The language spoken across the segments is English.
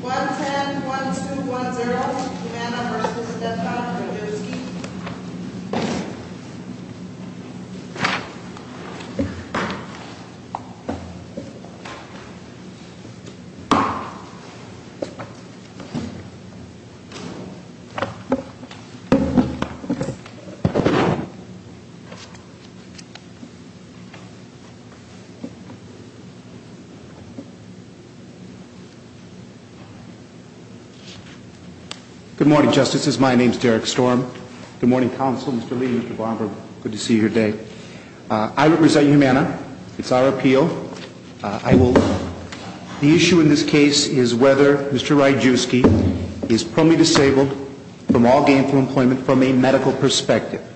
1-10-1-2-1-0, Humana v. Defconn, Majewski Good morning, Justices. My name is Derek Storm. Good morning, Counsel, Mr. Lee, Mr. Barber. Good to see you here today. I represent Humana. It's our appeal. I will – the issue in this case is whether Mr. Majewski is permanently disabled from all gainful employment from a medical perspective.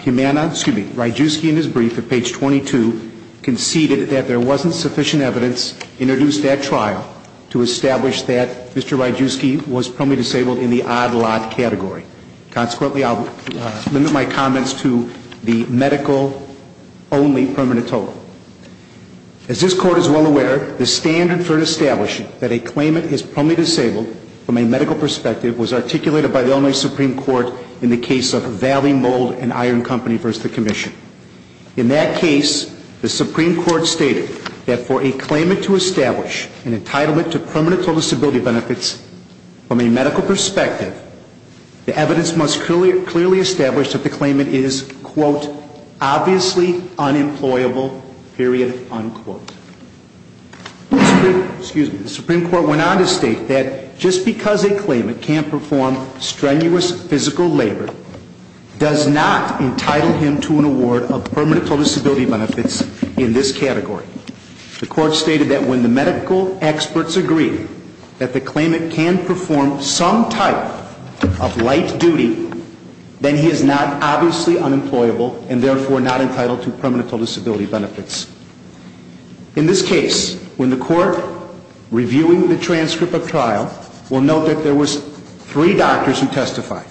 Humana – excuse me – Majewski, in his brief at page 22, conceded that there wasn't sufficient evidence introduced at trial to establish that Mr. Majewski was permanently disabled in the odd-lot category. Consequently, I will limit my comments to the medical-only permanent total. As this Court is well aware, the standard for establishing that a claimant is permanently disabled from a medical perspective was articulated by the Illinois Supreme Court in the case of Valley Mold and Iron Company v. the Commission. In that case, the Supreme Court stated that for a claimant to establish an entitlement to permanent total disability benefits from a medical perspective, the evidence must clearly establish that the claimant is, quote, obviously unemployable, period, unquote. The Supreme Court went on to state that just because a claimant can't perform strenuous physical labor does not entitle him to an award of permanent total disability benefits in this category. The Court stated that when the medical experts agree that the claimant can perform some type of light duty, then he is not obviously unemployable and therefore not entitled to permanent total disability benefits. In this case, when the Court, reviewing the transcript of trial, will note that there were three doctors who testified.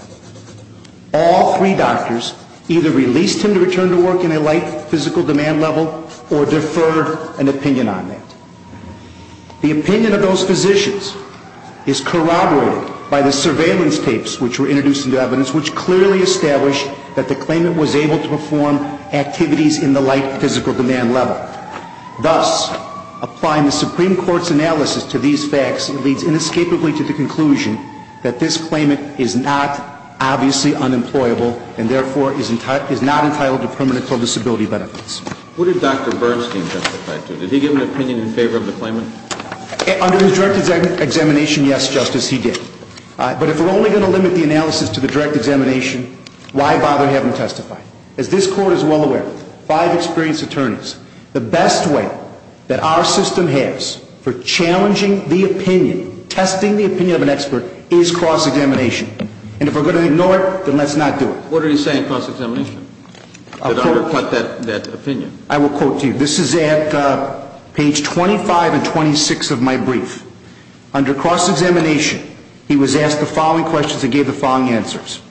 All three doctors either released him to return to work in a light physical demand level or deferred an opinion on that. The opinion of those physicians is corroborated by the surveillance tapes which were introduced into evidence which clearly established that the claimant was able to perform activities in the light physical demand level. Thus, applying the Supreme Court's analysis to these facts, it leads inescapably to the conclusion that this claimant is not obviously unemployable and therefore is not entitled to permanent total disability benefits. What did Dr. Bernstein testify to? Did he give an opinion in favor of the claimant? Under his direct examination, yes, Justice, he did. But if we're only going to limit the analysis to the direct examination, why bother having him testify? As this Court is well aware, five experienced attorneys, the best way that our system has for challenging the opinion, testing the opinion of an expert, is cross-examination. And if we're going to ignore it, then let's not do it. What did he say in cross-examination? Did I quote that opinion? I will quote to you. This is at page 25 and 26 of my brief. Under cross-examination, he was asked the following questions and gave the following answers.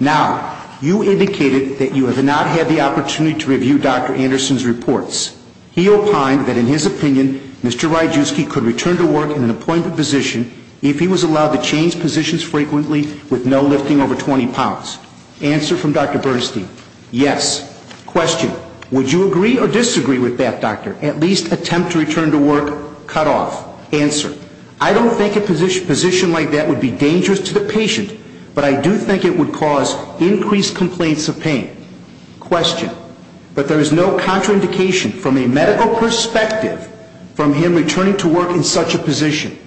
Now, you indicated that you have not had the opportunity to review Dr. Anderson's reports. He opined that in his opinion, Mr. Ryjewski could return to work in an appointment position if he was allowed to change positions frequently with no lifting over 20 pounds. Answer from Dr. Bernstein. Yes. Question. Would you agree or disagree with that, doctor? At least attempt to return to work cut off. Answer. I don't think a position like that would be dangerous to the patient, but I do think it would cause increased complaints of pain. Question. But there is no contraindication from a medical perspective from him returning to work in such a position.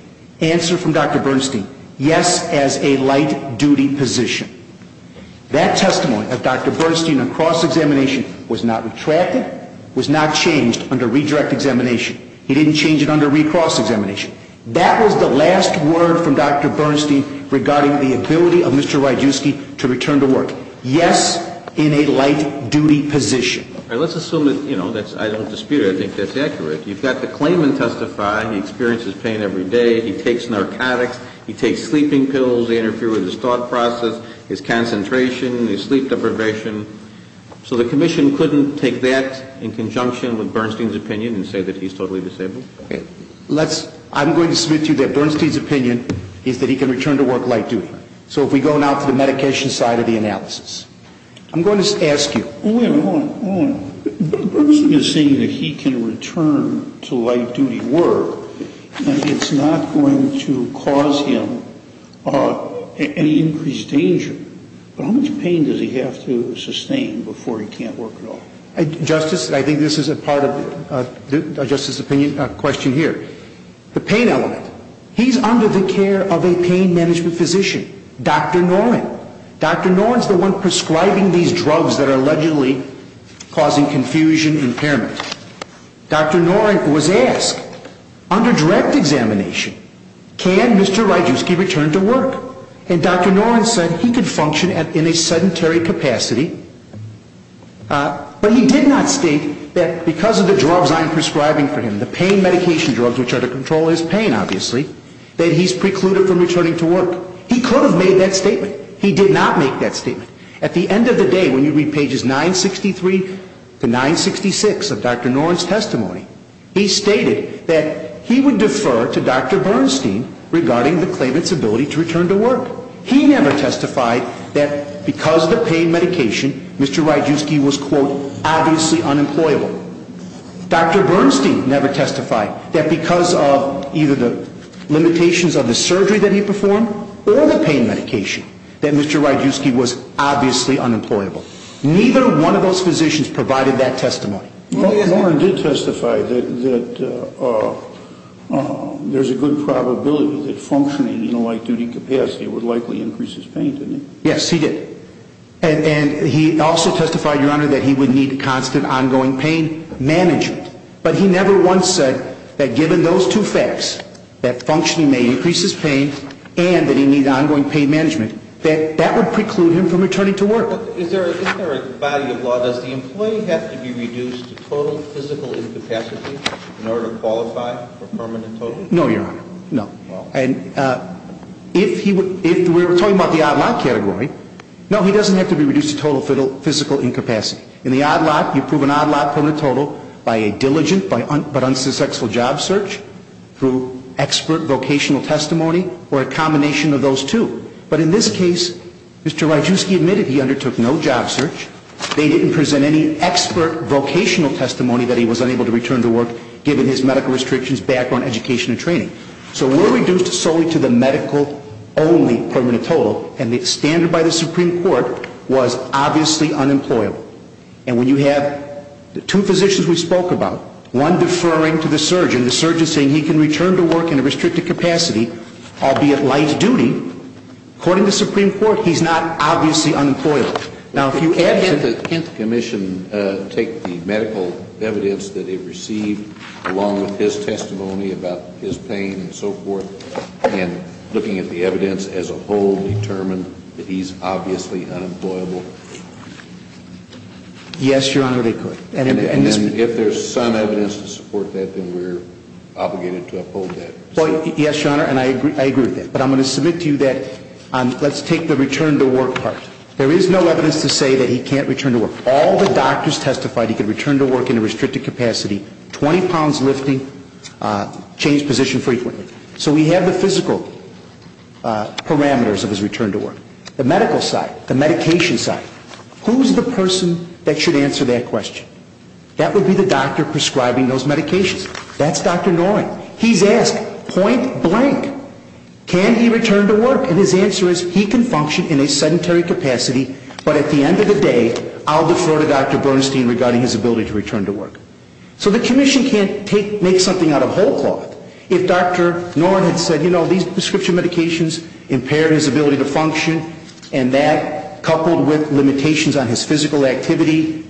Answer from Dr. Bernstein. Yes, as a light-duty position. That testimony of Dr. Bernstein in cross-examination was not retracted, was not changed under redirect examination. He didn't change it under recross examination. That was the last word from Dr. Bernstein regarding the ability of Mr. Ryjewski to return to work. Yes, in a light-duty position. Let's assume that, you know, I don't dispute it. I think that's accurate. You've got the claimant testify. He experiences pain every day. He takes narcotics. He takes sleeping pills. They interfere with his thought process, his concentration, his sleep deprivation. So the commission couldn't take that in conjunction with Bernstein's opinion and say that he's totally disabled? I'm going to submit to you that Bernstein's opinion is that he can return to work light-duty. So if we go now to the medication side of the analysis, I'm going to ask you. Wait a minute. Hold on. Hold on. Bernstein is saying that he can return to light-duty work and it's not going to cause him any increased danger. But how much pain does he have to sustain before he can't work at all? Justice, I think this is a part of Justice's opinion, a question here. The pain element. He's under the care of a pain management physician, Dr. Norrin. Dr. Norrin is the one prescribing these drugs that are allegedly causing confusion, impairment. Dr. Norrin was asked under direct examination, can Mr. Rajewski return to work? And Dr. Norrin said he could function in a sedentary capacity. But he did not state that because of the drugs I'm prescribing for him, the pain medication drugs which are to control his pain, obviously, that he's precluded from returning to work. He could have made that statement. He did not make that statement. At the end of the day, when you read pages 963 to 966 of Dr. Norrin's testimony, he stated that he would defer to Dr. Bernstein regarding the claimant's ability to return to work. He never testified that because of the pain medication, Mr. Rajewski was, quote, obviously unemployable. Dr. Bernstein never testified that because of either the limitations of the surgery that he performed or the pain medication, that Mr. Rajewski was obviously unemployable. Neither one of those physicians provided that testimony. Norrin did testify that there's a good probability that functioning in a light-duty capacity would likely increase his pain, didn't he? Yes, he did. And he also testified, Your Honor, that he would need constant ongoing pain management. But he never once said that given those two facts, that functioning may increase his pain and that he needs ongoing pain management, that that would preclude him from returning to work. Is there a body of law, does the employee have to be reduced to total physical incapacity in order to qualify for permanent total? No, Your Honor, no. And if he would, if we're talking about the odd lot category, no, he doesn't have to be reduced to total physical incapacity. In the odd lot, you prove an odd lot, permanent total, by a diligent but unsuccessful job search, through expert vocational testimony, or a combination of those two. But in this case, Mr. Rajewski admitted he undertook no job search. They didn't present any expert vocational testimony that he was unable to return to work, given his medical restrictions, background, education, and training. So we're reduced solely to the medical-only permanent total, and the standard by the Supreme Court was obviously unemployable. And when you have the two physicians we spoke about, one deferring to the surgeon, and the surgeon saying he can return to work in a restricted capacity, albeit light duty, according to the Supreme Court, he's not obviously unemployable. Now, if you add to that… Can't the commission take the medical evidence that it received, along with his testimony about his pain and so forth, and looking at the evidence as a whole, determine that he's obviously unemployable? Yes, Your Honor, they could. And if there's some evidence to support that, then we're obligated to uphold that. Yes, Your Honor, and I agree with that. But I'm going to submit to you that let's take the return to work part. There is no evidence to say that he can't return to work. All the doctors testified he could return to work in a restricted capacity, 20 pounds lifting, changed position frequently. So we have the physical parameters of his return to work. The medical side, the medication side. Who's the person that should answer that question? That would be the doctor prescribing those medications. That's Dr. Noren. He's asked, point blank, can he return to work? And his answer is he can function in a sedentary capacity, but at the end of the day, I'll defer to Dr. Bernstein regarding his ability to return to work. So the commission can't make something out of whole cloth. If Dr. Noren had said, you know, these prescription medications impaired his ability to function, and that coupled with limitations on his physical activity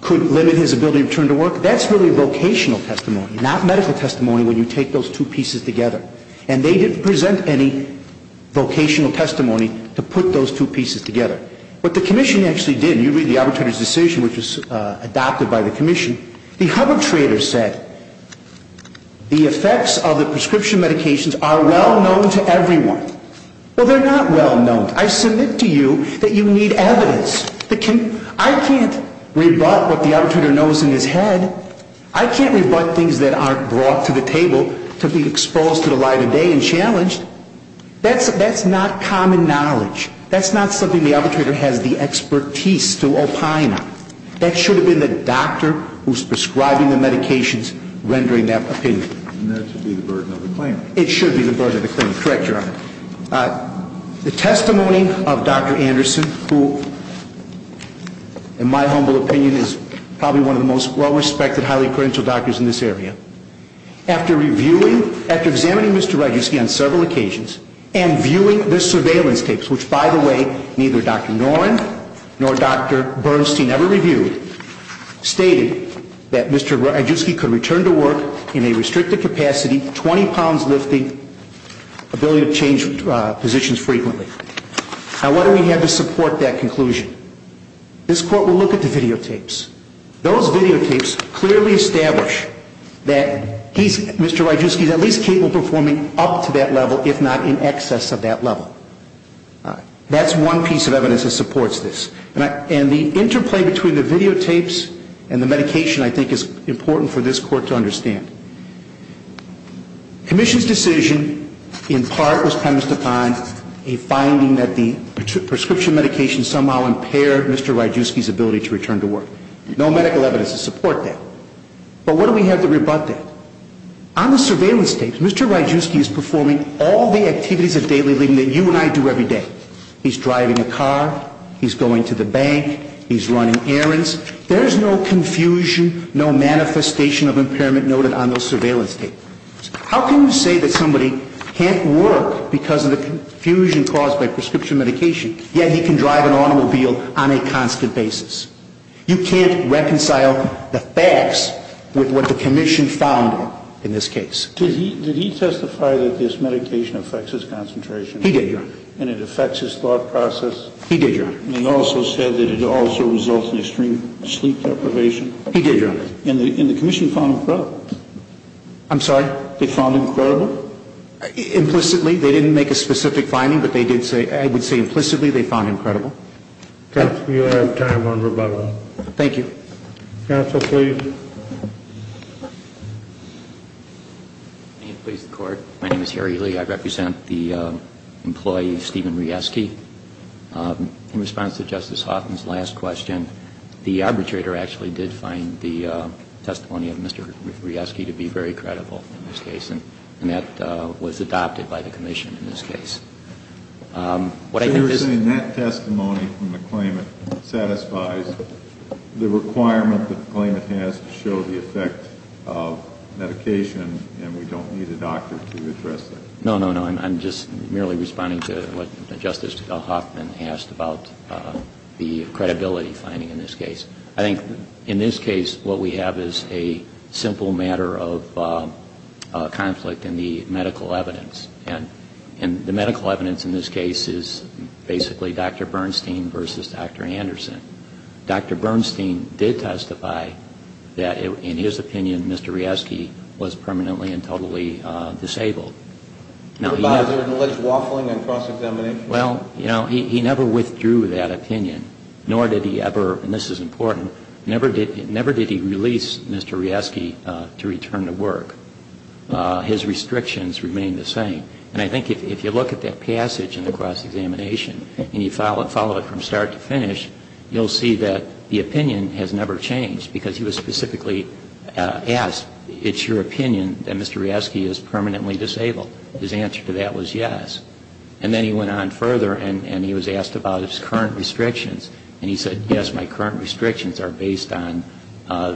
could limit his ability to return to work, that's really vocational testimony, not medical testimony when you take those two pieces together. And they didn't present any vocational testimony to put those two pieces together. What the commission actually did, you read the arbitrator's decision, which was adopted by the commission, the arbitrator said the effects of the prescription medications are well known to everyone. Well, they're not well known. I submit to you that you need evidence. I can't rebut what the arbitrator knows in his head. I can't rebut things that aren't brought to the table to be exposed to the light of day and challenged. That's not common knowledge. That's not something the arbitrator has the expertise to opine on. That should have been the doctor who's prescribing the medications rendering that opinion. And that should be the burden of the claim. It should be the burden of the claim. Correct, Your Honor. The testimony of Dr. Anderson, who, in my humble opinion, is probably one of the most well-respected, highly-credentialed doctors in this area, after reviewing, after examining Mr. Rejewski on several occasions and viewing the surveillance tapes, which, by the way, neither Dr. Noren nor Dr. Bernstein ever reviewed, stated that Mr. Rejewski could return to work in a restricted capacity, 20 pounds lifting, ability to change positions frequently. Now, what do we have to support that conclusion? This Court will look at the videotapes. Those videotapes clearly establish that he's, Mr. Rejewski, at least capable of performing up to that level, if not in excess of that level. That's one piece of evidence that supports this. And the interplay between the videotapes and the medication, I think, is important for this Court to understand. Commission's decision, in part, was premised upon a finding that the prescription medication somehow impaired Mr. Rejewski's ability to return to work. No medical evidence to support that. But what do we have to rebut that? On the surveillance tapes, Mr. Rejewski is performing all the activities of daily living that you and I do every day. He's driving a car. He's going to the bank. He's running errands. There's no confusion, no manifestation of impairment noted on those surveillance tapes. How can you say that somebody can't work because of the confusion caused by prescription medication, yet he can drive an automobile on a constant basis? You can't reconcile the facts with what the Commission found in this case. Did he testify that this medication affects his concentration? He did, Your Honor. And it affects his thought process? He did, Your Honor. And he also said that it also results in extreme sleep deprivation? He did, Your Honor. And the Commission found him credible? I'm sorry? They found him credible? Implicitly. They didn't make a specific finding, but I would say implicitly they found him credible. Counsel, you have time on rebuttal. Thank you. Counsel, please. May it please the Court. My name is Harry Lee. I represent the employee, Stephen Rieske. In response to Justice Houghton's last question, the arbitrator actually did find the testimony of Mr. Rieske to be very credible in this case, and that was adopted by the Commission in this case. What I think is You're saying that testimony from the claimant satisfies the requirement that the claimant has to show the effect of medication and we don't need a doctor to address that? No, no, no. I'm just merely responding to what Justice Hoffman asked about the credibility finding in this case. I think in this case what we have is a simple matter of conflict in the medical evidence. And the medical evidence in this case is basically Dr. Bernstein versus Dr. Anderson. Dr. Bernstein did testify that in his opinion Mr. Rieske was permanently and totally disabled. Was there an alleged waffling on cross-examination? Well, you know, he never withdrew that opinion, nor did he ever, and this is important, never did he release Mr. Rieske to return to work. His restrictions remained the same. And I think if you look at that passage in the cross-examination and you follow it from start to finish, you'll see that the opinion has never changed because he was specifically asked, it's your opinion that Mr. Rieske is permanently disabled? His answer to that was yes. And then he went on further and he was asked about his current restrictions, and he said, yes, my current restrictions are based on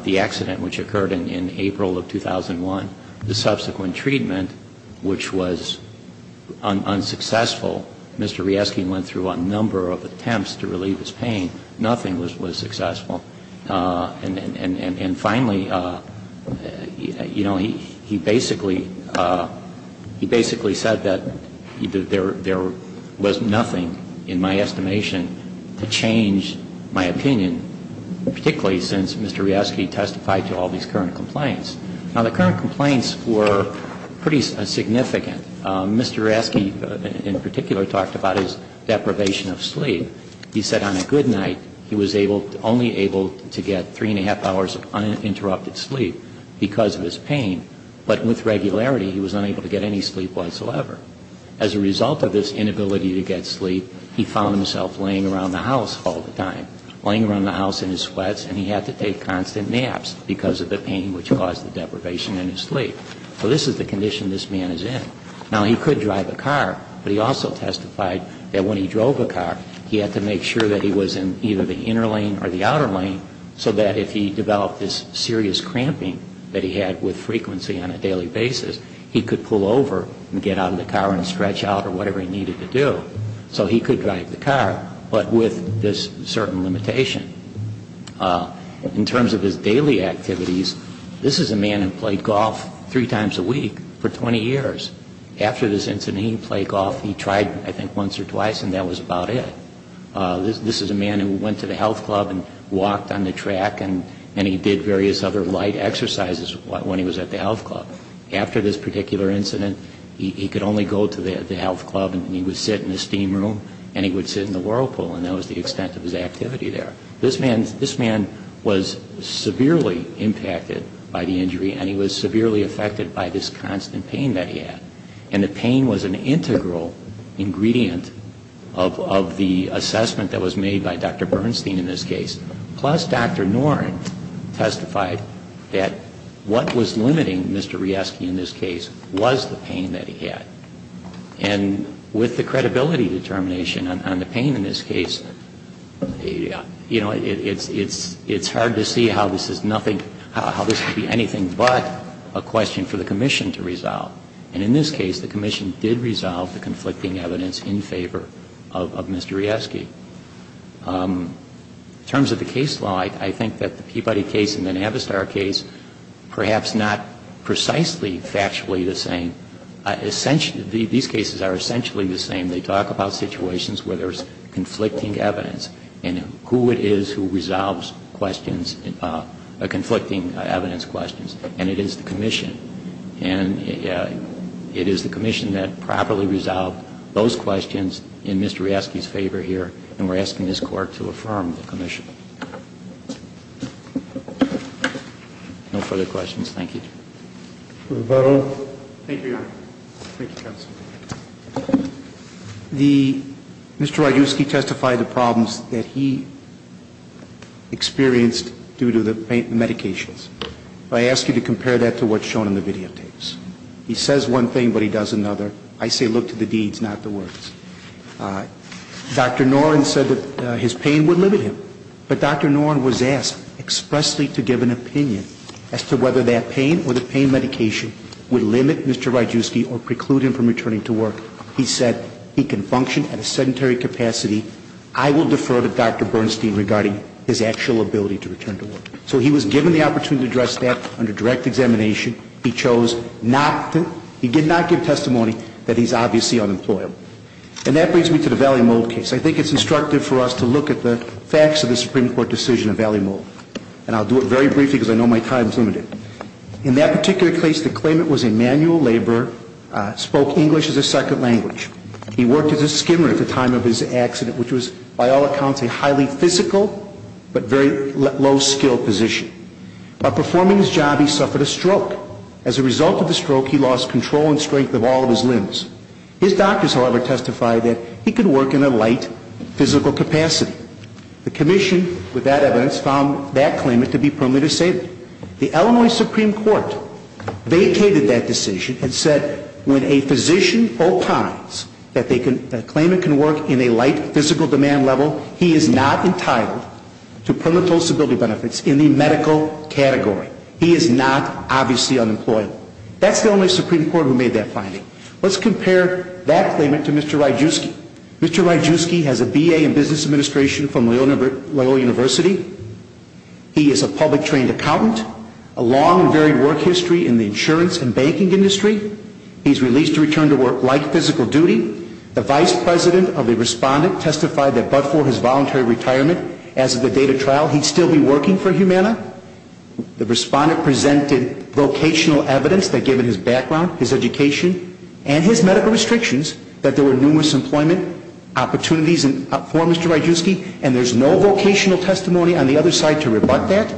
the accident which occurred in April of 2001, the subsequent treatment, which was unsuccessful. Mr. Rieske went through a number of attempts to relieve his pain. Nothing was successful. And finally, you know, he basically said that there was nothing in my estimation to change his decision to leave the hospital. And he said, no, I don't think there is anything in my estimation to change my opinion, particularly since Mr. Rieske testified to all these current complaints. Now, the current complaints were pretty significant. Mr. Rieske in particular talked about his deprivation of sleep. He said on a good night, he was able, only able to get three and a half hours of uninterrupted sleep because of his pain. But with regularity, he was unable to get any sleep whatsoever. As a result of this inability to get sleep, he found himself laying around the house all the time, laying around the house in his sweats, and he had to take constant naps because of the pain which caused the deprivation in his sleep. So this is the condition this man is in. Now, he could drive a car, but he also testified that when he drove a car, he had to make sure that he was in either the inner lane or the outer lane so that if he developed this serious cramping that he had with frequency on a daily basis, he could pull over and get out of the car and stretch out or whatever he needed to do. So he could drive the car, but with this certain limitation. In terms of his daily activities, this is a man who played golf three times a week for 20 years. After this incident, he played golf, he tried I think once or twice, and that was about it. This is a man who went to the health club and walked on the track and he did various other light exercises when he was at the health club. After this particular incident, he could only go to the health club and he would sit in the steam room and he would sit in the whirlpool and that was the extent of his activity there. This man was severely impacted by the injury and he was severely affected by this constant pain that he had. And the pain was an integral ingredient of the assessment that was made by Dr. Bernstein in this case. Plus Dr. Noren testified that what was limiting Mr. Rieske in this case was the pain that he had. And with the credibility determination on the pain in this case, you know, it's hard to see how this is nothing, how this could be anything but a question for the commission to resolve. And in this case, the commission did resolve the conflicting evidence in favor of Mr. Rieske. In terms of the case law, I think that the Peabody case and the Navistar case perhaps not precisely factually the same. These cases are essentially the same. They talk about situations where there is conflicting evidence and who it is who resolves questions, conflicting evidence questions, and it is the commission. And it is the commission that properly resolved those questions in Mr. Rieske's favor here. And we're asking this Court to affirm the commission. No further questions. Thank you. Thank you, Your Honor. Thank you, Counsel. Mr. Radjuski testified the problems that he experienced due to the pain and medications. I ask you to compare that to what's shown in the videotapes. He says one thing, but he does another. I say look to the deeds, not the words. Dr. Noren said that his pain would limit him. But Dr. Noren was asked expressly to give an opinion as to whether that pain or the pain medication would limit Mr. Radjuski or preclude him from returning to work. He said he can function at a sedentary capacity. I will defer to Dr. Bernstein regarding his actual ability to return to work. So he was given the opportunity to address that under direct examination. He chose not to. He did not give testimony that he's obviously unemployed. And that brings me to the Valley Mold case. I think it's instructive for us to look at the facts of the Supreme Court decision of Valley Mold. And I'll do it very briefly because I know my time is limited. In that particular case, the claimant was a manual laborer, spoke English as a second language. He worked as a skimmer at the time of his accident, which was, by all accounts, a highly physical but very low-skilled position. While performing his job, he suffered a stroke. As a result of the stroke, he lost control and strength of all of his limbs. His doctors, however, testified that he could work in a light physical capacity. The commission, with that evidence, found that claimant to be permanently disabled. The Illinois Supreme Court vacated that decision and said when a physician opines that a claimant can work in a light physical demand level, he is not entitled to permanent disability benefits in the medical category. He is not obviously unemployed. That's the only Supreme Court who made that finding. Let's compare that claimant to Mr. Ryjewski. Mr. Ryjewski has a B.A. in business administration from Loyola University. He is a public-trained accountant, a long and varied work history in the insurance and banking industry. He's released to return to work light physical duty. The vice president of the respondent testified that but for his voluntary retirement, as of the date of trial, he'd still be working for Humana. The respondent presented vocational evidence that given his background, his education, and his medical restrictions, that there were numerous employment opportunities for Mr. Ryjewski, and there's no vocational testimony on the other side to rebut that.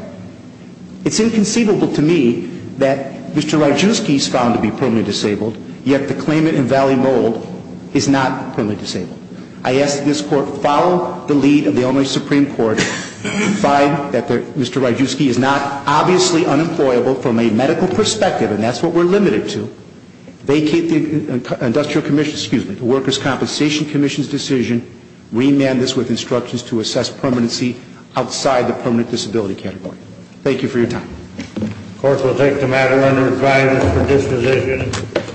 It's inconceivable to me that Mr. Ryjewski is found to be permanently disabled, yet the claimant in Valley Mold is not permanently disabled. I ask that this Court follow the lead of the only Supreme Court to find that Mr. Ryjewski is not obviously unemployable from a medical perspective, and that's what we're limited to, vacate the Industrial Commission, excuse me, the Workers' Compensation Commission's decision, remand this with instructions to assess permanency outside the permanent disability category. Thank you for your time. The Court will take the matter under review for disposition.